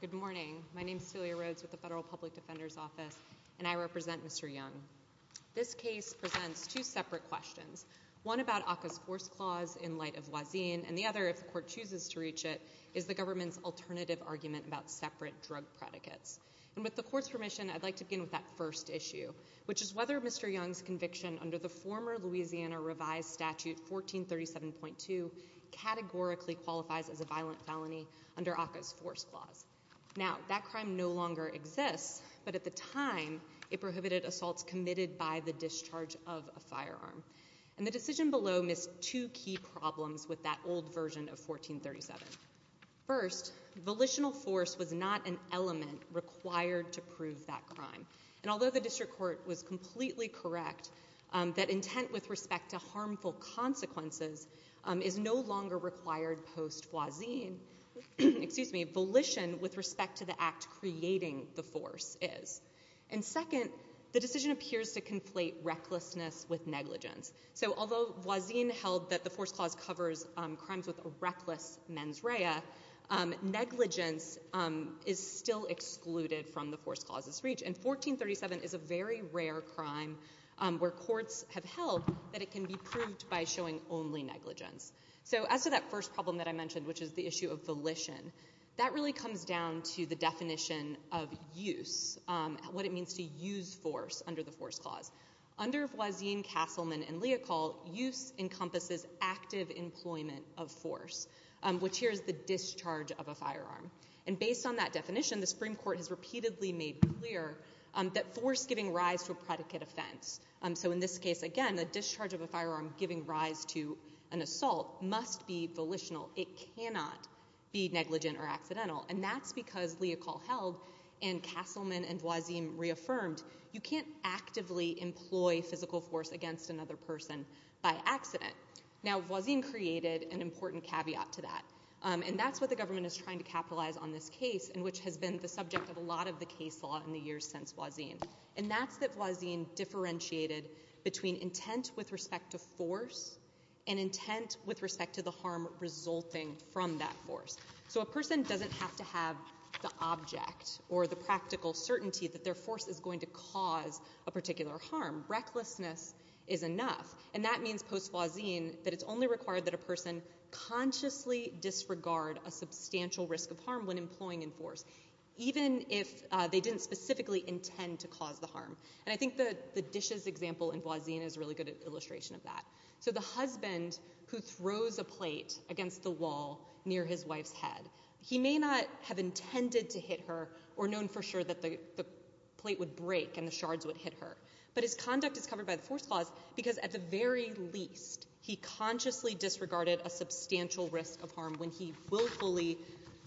Good morning. My name is Celia Rhodes with the Federal Public Defender's Office, and I represent Mr. Young. This case presents two separate questions. One about ACCA's Force Clause in light of Wazin, and the other, if the Court chooses to reach it, is the government's alternative argument about separate drug predicates. And with the Court's permission, I'd like to begin with that first issue, which is whether Mr. Young's conviction under the former Louisiana Revised Statute 1437.2 categorically qualifies as a violent felony under ACCA's Force Clause. Now, that crime no longer exists, but at the time it prohibited assaults committed by the discharge of a firearm. And the decision below missed two key problems with that old version of 1437. First, volitional force was not an element required to prove that crime. And intent with respect to harmful consequences is no longer required post-Wazin, excuse me, volition with respect to the act creating the force is. And second, the decision appears to conflate recklessness with negligence. So although Wazin held that the Force Clause covers crimes with a reckless mens rea, negligence is still excluded from the Force Clause's reach. And 1437 is a very rare crime where courts have held that it can be proved by showing only negligence. So as to that first problem that I mentioned, which is the issue of volition, that really comes down to the definition of use, what it means to use force under the Force Clause. Under Wazin, Castleman, and Leocal, use encompasses active employment of force, which here is the discharge of a firearm. And based on that definition, the Supreme Court has repeatedly made clear that force giving rise to a predicate offense. So in this case, again, the discharge of a firearm giving rise to an assault must be volitional. It cannot be negligent or accidental. And that's because Leocal held, and Castleman and Wazin reaffirmed, you can't actively employ physical force against another person by accident. Now, Wazin created an important caveat to that. And that's what the government is trying to capitalize on this case, and which has been the subject of a lot of the case law in the years since Wazin. And that's that Wazin differentiated between intent with respect to force and intent with respect to the harm resulting from that force. So a person doesn't have to have the object or the practical certainty that their force is going to cause a particular harm. Recklessness is enough. And that means post-Wazin that it's only required that a person consciously disregard a substantial risk of harm when employing in force, even if they didn't specifically intend to cause the harm. And I think the dishes example in Wazin is a really good illustration of that. So the husband who throws a plate against the wall near his wife's head, he may not have intended to hit her or known for sure that the plate would break and the shards would hit her. But his conduct is covered by the force clause because at the very least, he consciously disregarded a substantial risk of harm when he willfully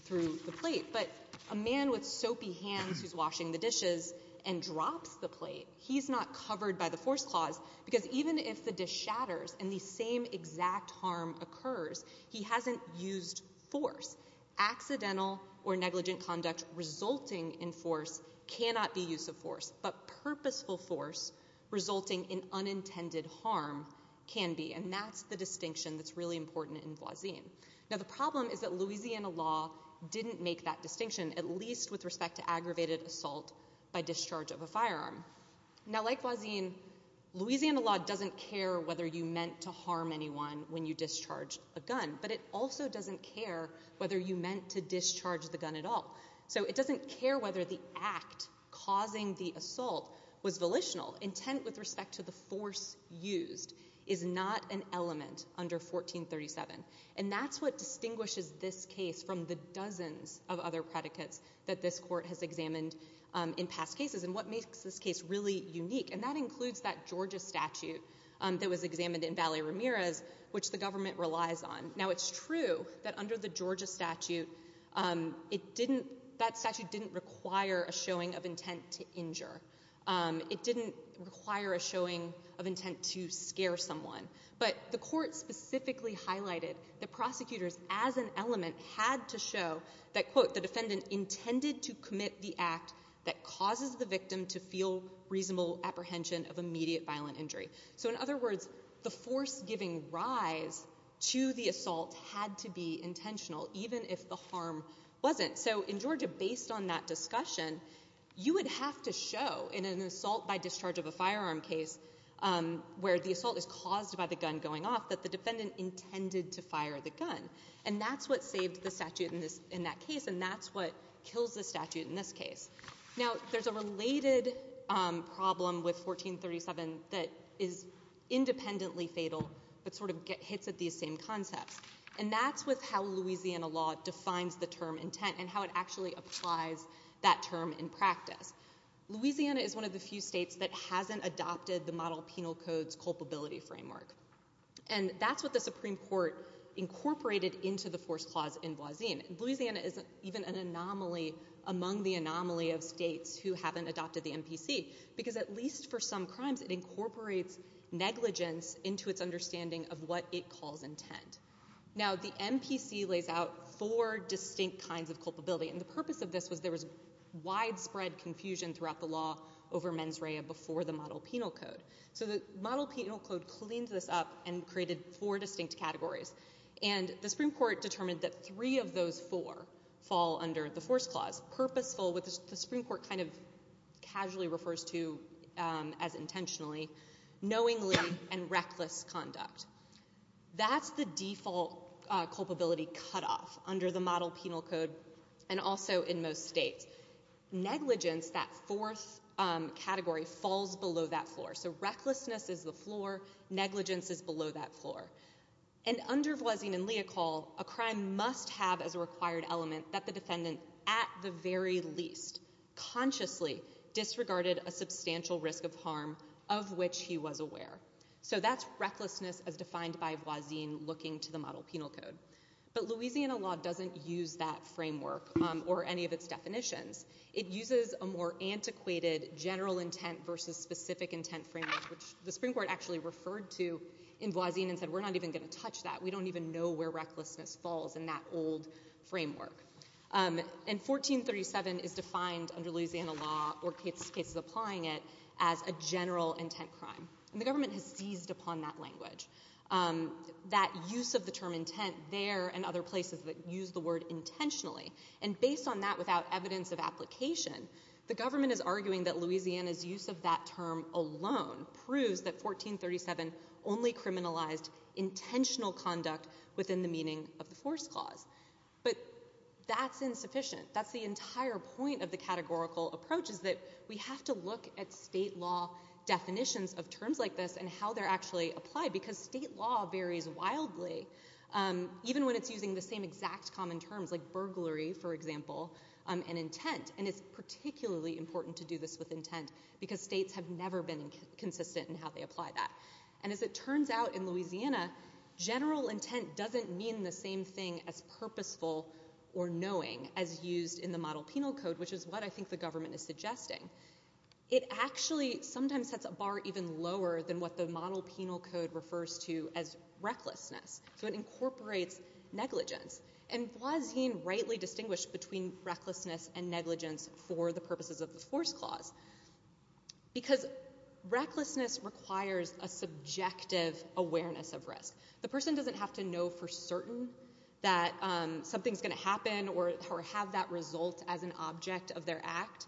threw the plate. But a man with soapy hands who's washing the dishes and drops the plate, he's not covered by the force clause because even if the dish shatters and the same exact harm occurs, he hasn't used force. Accidental or negligent conduct resulting in force cannot be use of force. But purposeful force resulting in unintended harm can be. And that's the distinction that's really important in Wazin. Now the problem is that Louisiana law didn't make that distinction, at least with respect to aggravated assault by discharge of a firearm. Now like Wazin, Louisiana law doesn't care whether you meant to harm anyone when you discharge a gun. But it also doesn't care whether you meant to discharge the gun at all. So it doesn't care whether the act causing the assault was volitional. Intent with respect to the force used is not an element under 1437. And that's what distinguishes this case from the dozens of other predicates that this court has examined in past cases and what makes this case really unique. And that includes that Georgia statute that was examined in Valley Ramirez, which the government relies on. Now it's true that under the Georgia statute, it didn't, that statute didn't require a showing of intent to injure. It didn't require a showing of intent to scare someone. But the court specifically highlighted that prosecutors as an element had to show that quote, the defendant intended to commit the act that causes the victim to feel reasonable apprehension of immediate violent injury. So in other words, the force giving rise to the assault had to be intentional, even if the harm wasn't. So in Georgia, based on that discussion, you would have to show in an assault by discharge of a firearm case where the assault is caused by the gun going off, that the defendant intended to fire the gun. And that's what saved the statute in this, in that case. And that's what kills the statute in this case. Now there's a related problem with 1437 that is the term intent and how it actually applies that term in practice. Louisiana is one of the few states that hasn't adopted the model penal codes culpability framework. And that's what the Supreme Court incorporated into the force clause in Boisin. Louisiana is even an anomaly among the anomaly of states who haven't adopted the MPC, because at least for some crimes, it incorporates negligence into its understanding of what it calls intent. Now the MPC lays out four distinct kinds of culpability. And the purpose of this was there was widespread confusion throughout the law over mens rea before the model penal code. So the model penal code cleans this up and created four distinct categories. And the Supreme Court determined that three of those four fall under the force clause. Purposeful, which the Supreme Court kind of casually refers to as intentionally, knowingly, and reckless conduct. That's the default culpability cutoff under the model penal code and also in most states. Negligence, that fourth category, falls below that floor. So recklessness is the floor. Negligence is below that floor. And under Boisin and Leocal, a crime must have as a required element that the defendant at the very least consciously disregarded a substantial risk of harm of which he was aware. So that's recklessness as defined by Boisin looking to the model penal code. But Louisiana law doesn't use that framework or any of its definitions. It uses a more antiquated general intent versus specific intent framework, which the Supreme Court actually referred to in Boisin and said, we're not even going to touch that. We don't even know where recklessness falls in that old framework. And 1437 is defined under Louisiana law or cases applying it as a general intent crime. And the government has seized upon that language, that use of the term intent there and other places that use the word intentionally. And based on that without evidence of application, the government is arguing that Louisiana's use of that term alone proves that 1437 only criminalized intentional conduct within the meaning of the force clause. But that's insufficient. That's the entire point of the categorical approach is that we have to look at state law definitions of terms like this and how they're actually applied because state law varies wildly even when it's using the same exact common terms like burglary, for example, and intent. And it's particularly important to do this with intent because states have never been consistent in how they apply that. And as it turns out in Louisiana, general intent doesn't mean the same thing as purposeful or knowing as used in the Model Penal Code, which is what I think the government is suggesting. It actually sometimes sets a bar even lower than what the Model Penal Code refers to as recklessness. So it incorporates negligence. And Boisin rightly distinguished between recklessness and negligence for the purposes of the force clause because recklessness requires a subjective awareness of risk. The person doesn't have to know for certain that something's going to happen or have that result as an object of their act,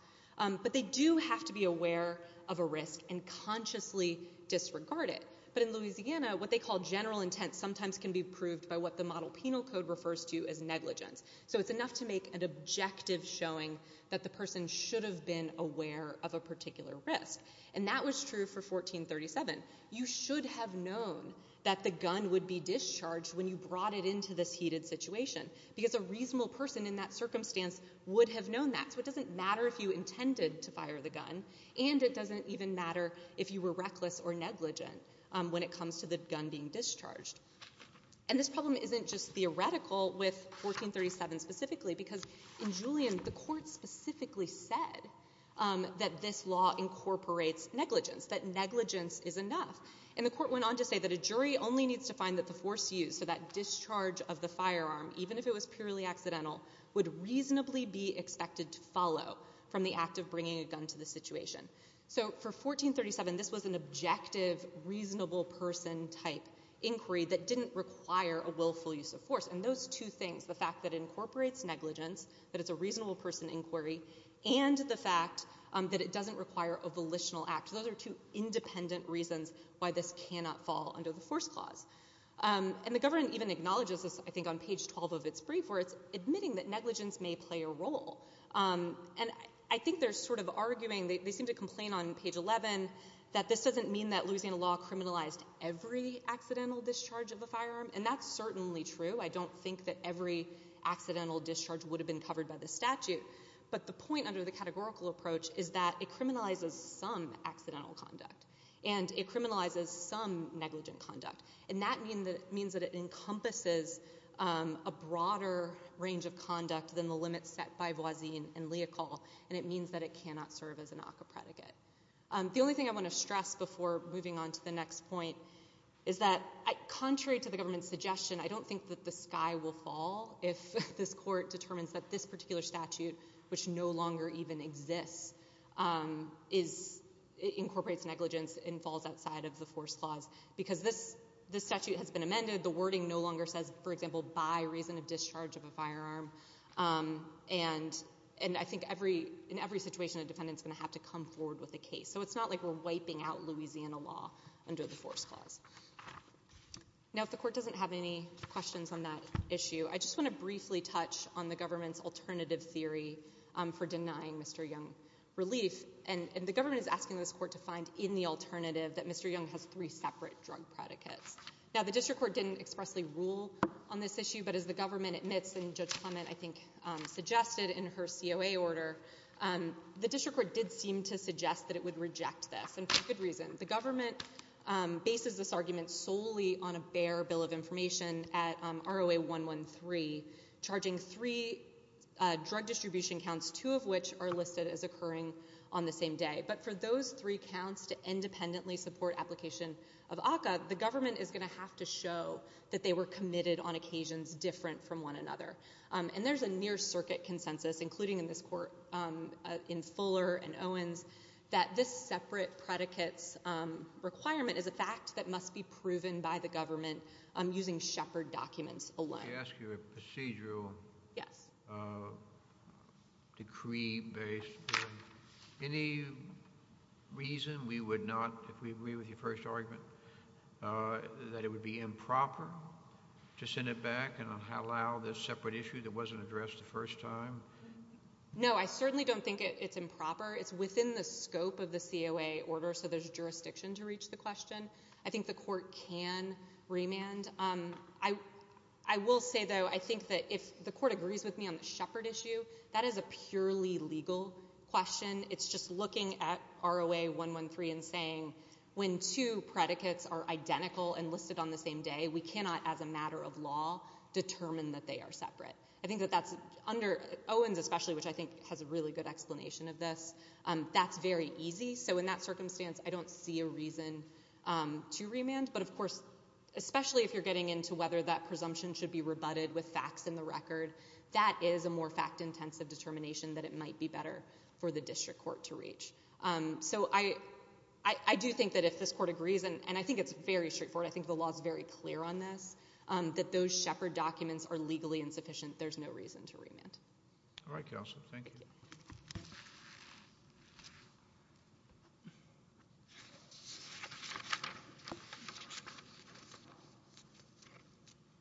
but they do have to be aware of a risk and consciously disregard it. But in Louisiana, what they call general intent sometimes can be proved by what the Model Penal Code refers to as negligence. So it's enough to make an objective showing that the person should have been aware of a particular risk. And that was true for 1437. You should have known that the gun would be discharged when you brought it into this heated situation because a reasonable person in that circumstance would have known that. So it doesn't matter if you intended to fire the gun, and it doesn't even matter if you were reckless or negligent when it comes to the gun being discharged. And this problem isn't just theoretical with 1437 specifically because in Julian, the court specifically said that this law incorporates negligence, that negligence is enough. And the court went on to say that a jury only needs to find that the force used, so that discharge of the firearm, even if it was purely accidental, would reasonably be expected to follow from the act of bringing a gun to the situation. So for 1437, this was an objective reasonable person type inquiry that didn't require a willful use of force. And those two things, the fact that incorporates negligence, that it's a reasonable person inquiry, and the fact that it doesn't require a volitional act, those are two independent reasons why this cannot fall under the force clause. And the page 12 of its brief where it's admitting that negligence may play a role. And I think they're sort of arguing, they seem to complain on page 11, that this doesn't mean that Louisiana law criminalized every accidental discharge of a firearm. And that's certainly true. I don't think that every accidental discharge would have been covered by the statute. But the point under the categorical approach is that it criminalizes some accidental conduct. And it criminalizes some a broader range of conduct than the limits set by Boisi and Leocal. And it means that it cannot serve as an ACCA predicate. The only thing I want to stress before moving on to the next point is that contrary to the government's suggestion, I don't think that the sky will fall if this court determines that this particular statute, which no longer even exists, is incorporates negligence and falls outside of the force clause. Because this statute has amended. The wording no longer says, for example, by reason of discharge of a firearm. And I think in every situation, a defendant's going to have to come forward with a case. So it's not like we're wiping out Louisiana law under the force clause. Now, if the court doesn't have any questions on that issue, I just want to briefly touch on the government's alternative theory for denying Mr. Young relief. And the government is asking this court to find in the rule on this issue. But as the government admits, and Judge Clement, I think, suggested in her COA order, the district court did seem to suggest that it would reject this. And for good reason. The government bases this argument solely on a bare bill of information at ROA 113, charging three drug distribution counts, two of which are listed as occurring on the same day. But for those three counts to independently support application of ACCA, the government is going to have to show that they were committed on occasions different from one another. And there's a near circuit consensus, including in this court, in Fuller and Owens, that this separate predicates requirement is a fact that must be proven by the government using Shepard documents alone. I ask you a procedural. Yes. Decree based. Any reason we would not, if we agree with your first argument, that it would be improper to send it back and allow this separate issue that wasn't addressed the first time? No, I certainly don't think it's improper. It's within the scope of the COA order. So there's jurisdiction to reach the question. I think the court can remand. I, I will say, though, I think that if the court agrees with me on the Shepard issue, that is a purely legal question. It's just looking at ROA 113 and saying, when two predicates are identical and listed on the same day, we cannot, as a matter of law, determine that they are separate. I think that that's under Owens, especially, which I think has a really good explanation of this. That's very easy. So in that circumstance, I don't see a reason to remand. But of course, especially if you're getting into whether that presumption should be rebutted with facts in the for the district court to reach. So I, I do think that if this court agrees, and I think it's very straightforward, I think the law is very clear on this, that those Shepard documents are legally insufficient. There's no reason to remand. All right, counsel. Thank you.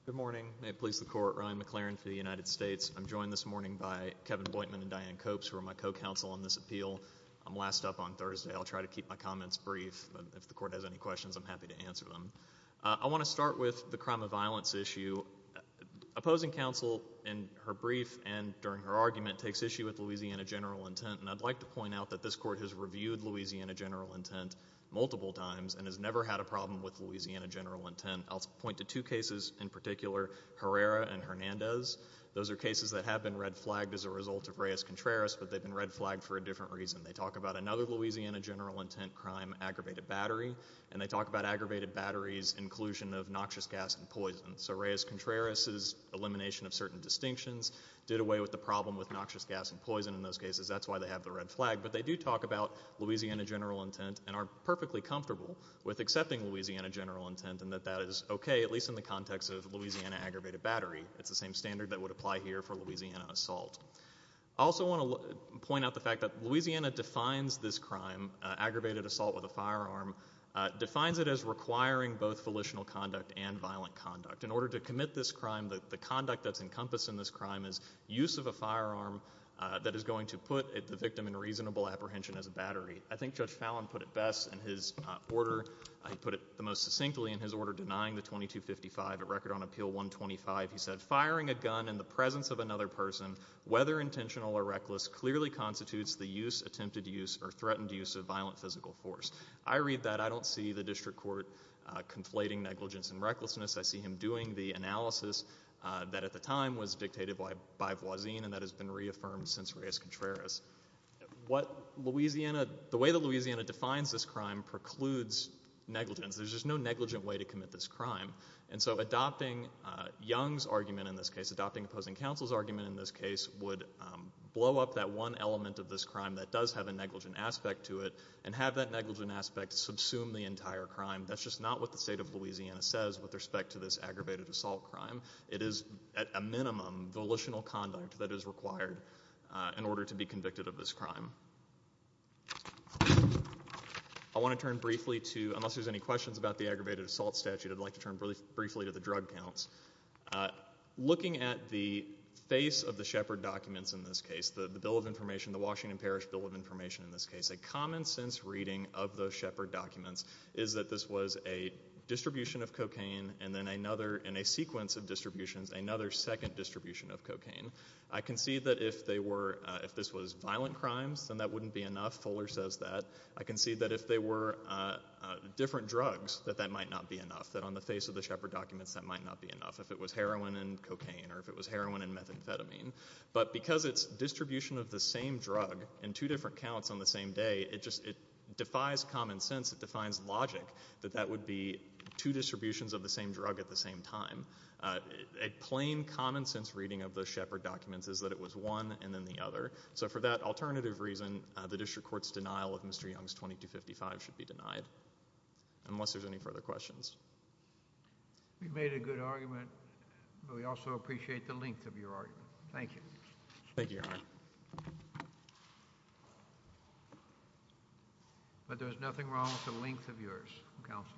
Good morning. May it please the court. Ryan McLaren for the United States. I'm joined this appointment in Diane Copes, who are my co-counsel on this appeal. I'm last up on Thursday. I'll try to keep my comments brief. If the court has any questions, I'm happy to answer them. I want to start with the crime of violence issue. Opposing counsel in her brief and during her argument takes issue with Louisiana general intent. And I'd like to point out that this court has reviewed Louisiana general intent multiple times and has never had a problem with Louisiana general intent. I'll point to two cases in particular, Herrera and Hernandez. Those are cases that have been red flagged as a result of Reyes-Contreras, but they've been red flagged for a different reason. They talk about another Louisiana general intent crime, aggravated battery, and they talk about aggravated batteries inclusion of noxious gas and poison. So Reyes-Contreras' elimination of certain distinctions did away with the problem with noxious gas and poison in those cases. That's why they have the red flag, but they do talk about Louisiana general intent and are perfectly comfortable with accepting Louisiana general intent and that that is okay, at least in the context of Louisiana aggravated battery. It's the same standard that would apply here for Louisiana assault. I also want to point out the fact that Louisiana defines this crime, aggravated assault with a firearm, defines it as requiring both volitional conduct and violent conduct. In order to commit this crime, the conduct that's encompassed in this crime is use of a firearm that is going to put the victim in reasonable apprehension as a battery. I think Judge Fallon put it best in his order. He put it the most succinctly in his order denying the 2255. At whether intentional or reckless clearly constitutes the use, attempted use, or threatened use of violent physical force. I read that. I don't see the district court conflating negligence and recklessness. I see him doing the analysis that at the time was dictated by Voisin and that has been reaffirmed since Reyes-Contreras. What Louisiana, the way that Louisiana defines this crime precludes negligence. There's just no negligent way to commit this crime. And so adopting Young's argument in this case, adopting opposing counsel's argument in this case would blow up that one element of this crime that does have a negligent aspect to it and have that negligent aspect subsume the entire crime. That's just not what the state of Louisiana says with respect to this aggravated assault crime. It is at a minimum volitional conduct that is required in order to be convicted of this crime. I want to turn briefly to, unless there's any questions about the aggravated assault statute, I'd like to turn briefly to the drug counts. Looking at the face of the Shepard documents in this case, the Bill of Information, the Washington Parish Bill of Information in this case, a common sense reading of those Shepard documents is that this was a distribution of cocaine and then another, in a sequence of distributions, another second distribution of cocaine. I can see that if they were, if this was violent crimes, then that wouldn't be enough. Fuller says that. I can see that if they were different drugs, that that might not be enough. That on the face of the Shepard documents, that might not be enough. If it was heroin and cocaine or if it was heroin and methamphetamine. But because it's distribution of the same drug in two different counts on the same day, it just, it defies common sense. It defines logic that that would be two distributions of the same drug at the same time. A plain common sense reading of those Shepard documents is that it was one and then the other. So for that alternative reason, the district court's denial of Mr. Young's 2255 should be denied, unless there's any further questions. We've made a good argument, but we also appreciate the length of your argument. Thank you. Thank you, Your Honor. But there's nothing wrong with the length of yours, counsel.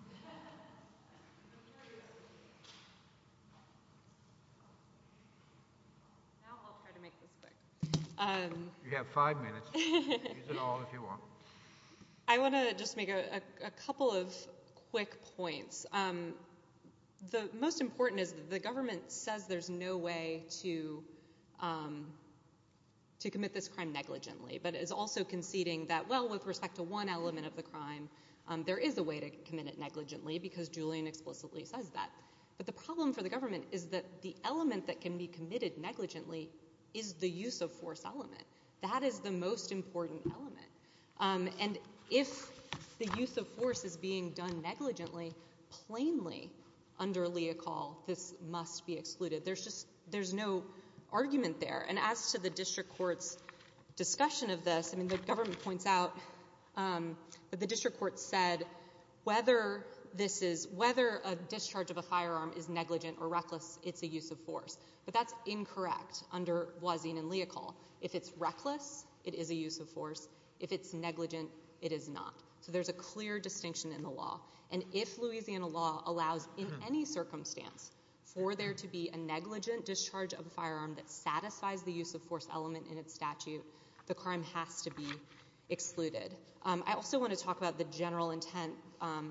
Now I'll try to make this quick. You have five minutes. Use it all if you want. I want to just make a couple of quick points. The most important is the government says there's no way to to commit this crime negligently, but is also conceding that, well, with respect to one element of the crime, there is a way to commit it negligently because Julian explicitly says that. But the problem for the government is that the element that can be committed negligently is the use of force element. That is the most important element. And if the use of force is being done negligently, plainly under Leocal, this must be excluded. There's just there's no argument there. And as to the district court's discussion of this, I mean, the government points out that the district court said whether this is whether a discharge of a firearm is negligent or under Boisin and Leocal, if it's reckless, it is a use of force. If it's negligent, it is not. So there's a clear distinction in the law. And if Louisiana law allows in any circumstance for there to be a negligent discharge of a firearm that satisfies the use of force element in its statute, the crime has to be excluded. I also want to talk about the general intent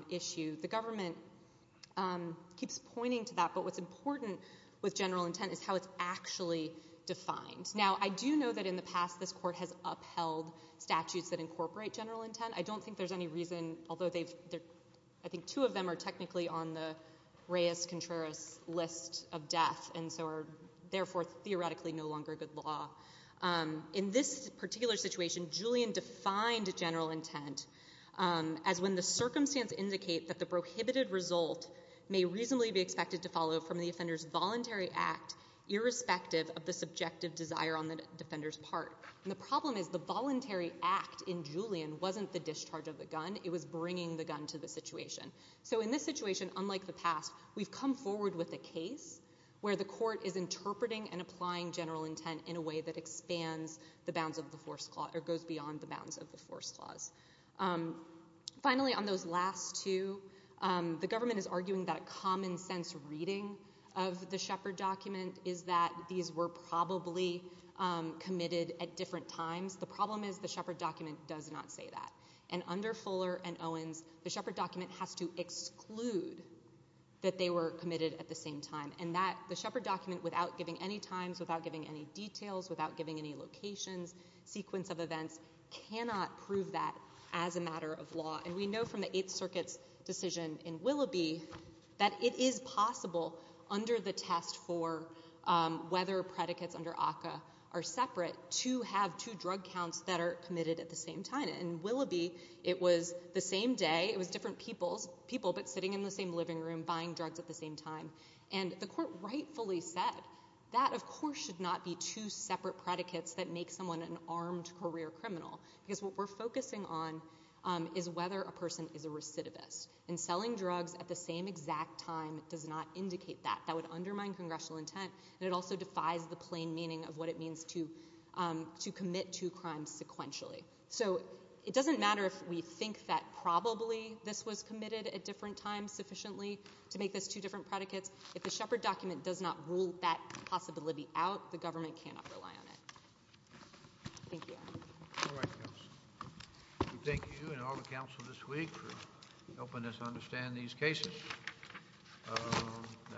issue. The government keeps pointing to that, but what's important with general intent is how it's actually defined. Now, I do know that in the past this court has upheld statutes that incorporate general intent. I don't think there's any reason, although they've, I think two of them are technically on the Reyes-Contreras list of death and so are therefore theoretically no longer good law. In this particular situation, Julian defined general intent as when the circumstance indicate that the prohibited result may reasonably be expected to follow from the offender's voluntary act irrespective of the subjective desire on the defender's part. And the problem is the voluntary act in Julian wasn't the discharge of the gun, it was bringing the gun to the situation. So in this situation, unlike the past, we've come forward with a case where the court is interpreting and applying general intent in a way that expands the bounds of the force clause or goes beyond the The government is arguing that a common sense reading of the Shepard document is that these were probably committed at different times. The problem is the Shepard document does not say that. And under Fuller and Owens, the Shepard document has to exclude that they were committed at the same time and that the Shepard document without giving any times, without giving any details, without giving any locations, sequence of events, cannot prove that as a matter of law. And we know from the Eighth Circuit's decision in Willoughby that it is possible under the test for whether predicates under ACCA are separate to have two drug counts that are committed at the same time. In Willoughby, it was the same day, it was different people, but sitting in the same living room buying drugs at the same time. And the court rightfully said that of course should not be two separate predicates that make someone an armed career criminal. Because what we're focusing on is whether a person is a recidivist. And selling drugs at the same exact time does not indicate that. That would undermine congressional intent and it also defies the plain meaning of what it means to commit two crimes sequentially. So it doesn't matter if we think that probably this was committed at different times sufficiently to make this two different predicates. If the Shepard document does not rule that possibility out, the government cannot rely on it. Thank you. All right. Thank you and all the council this week for helping us understand these cases.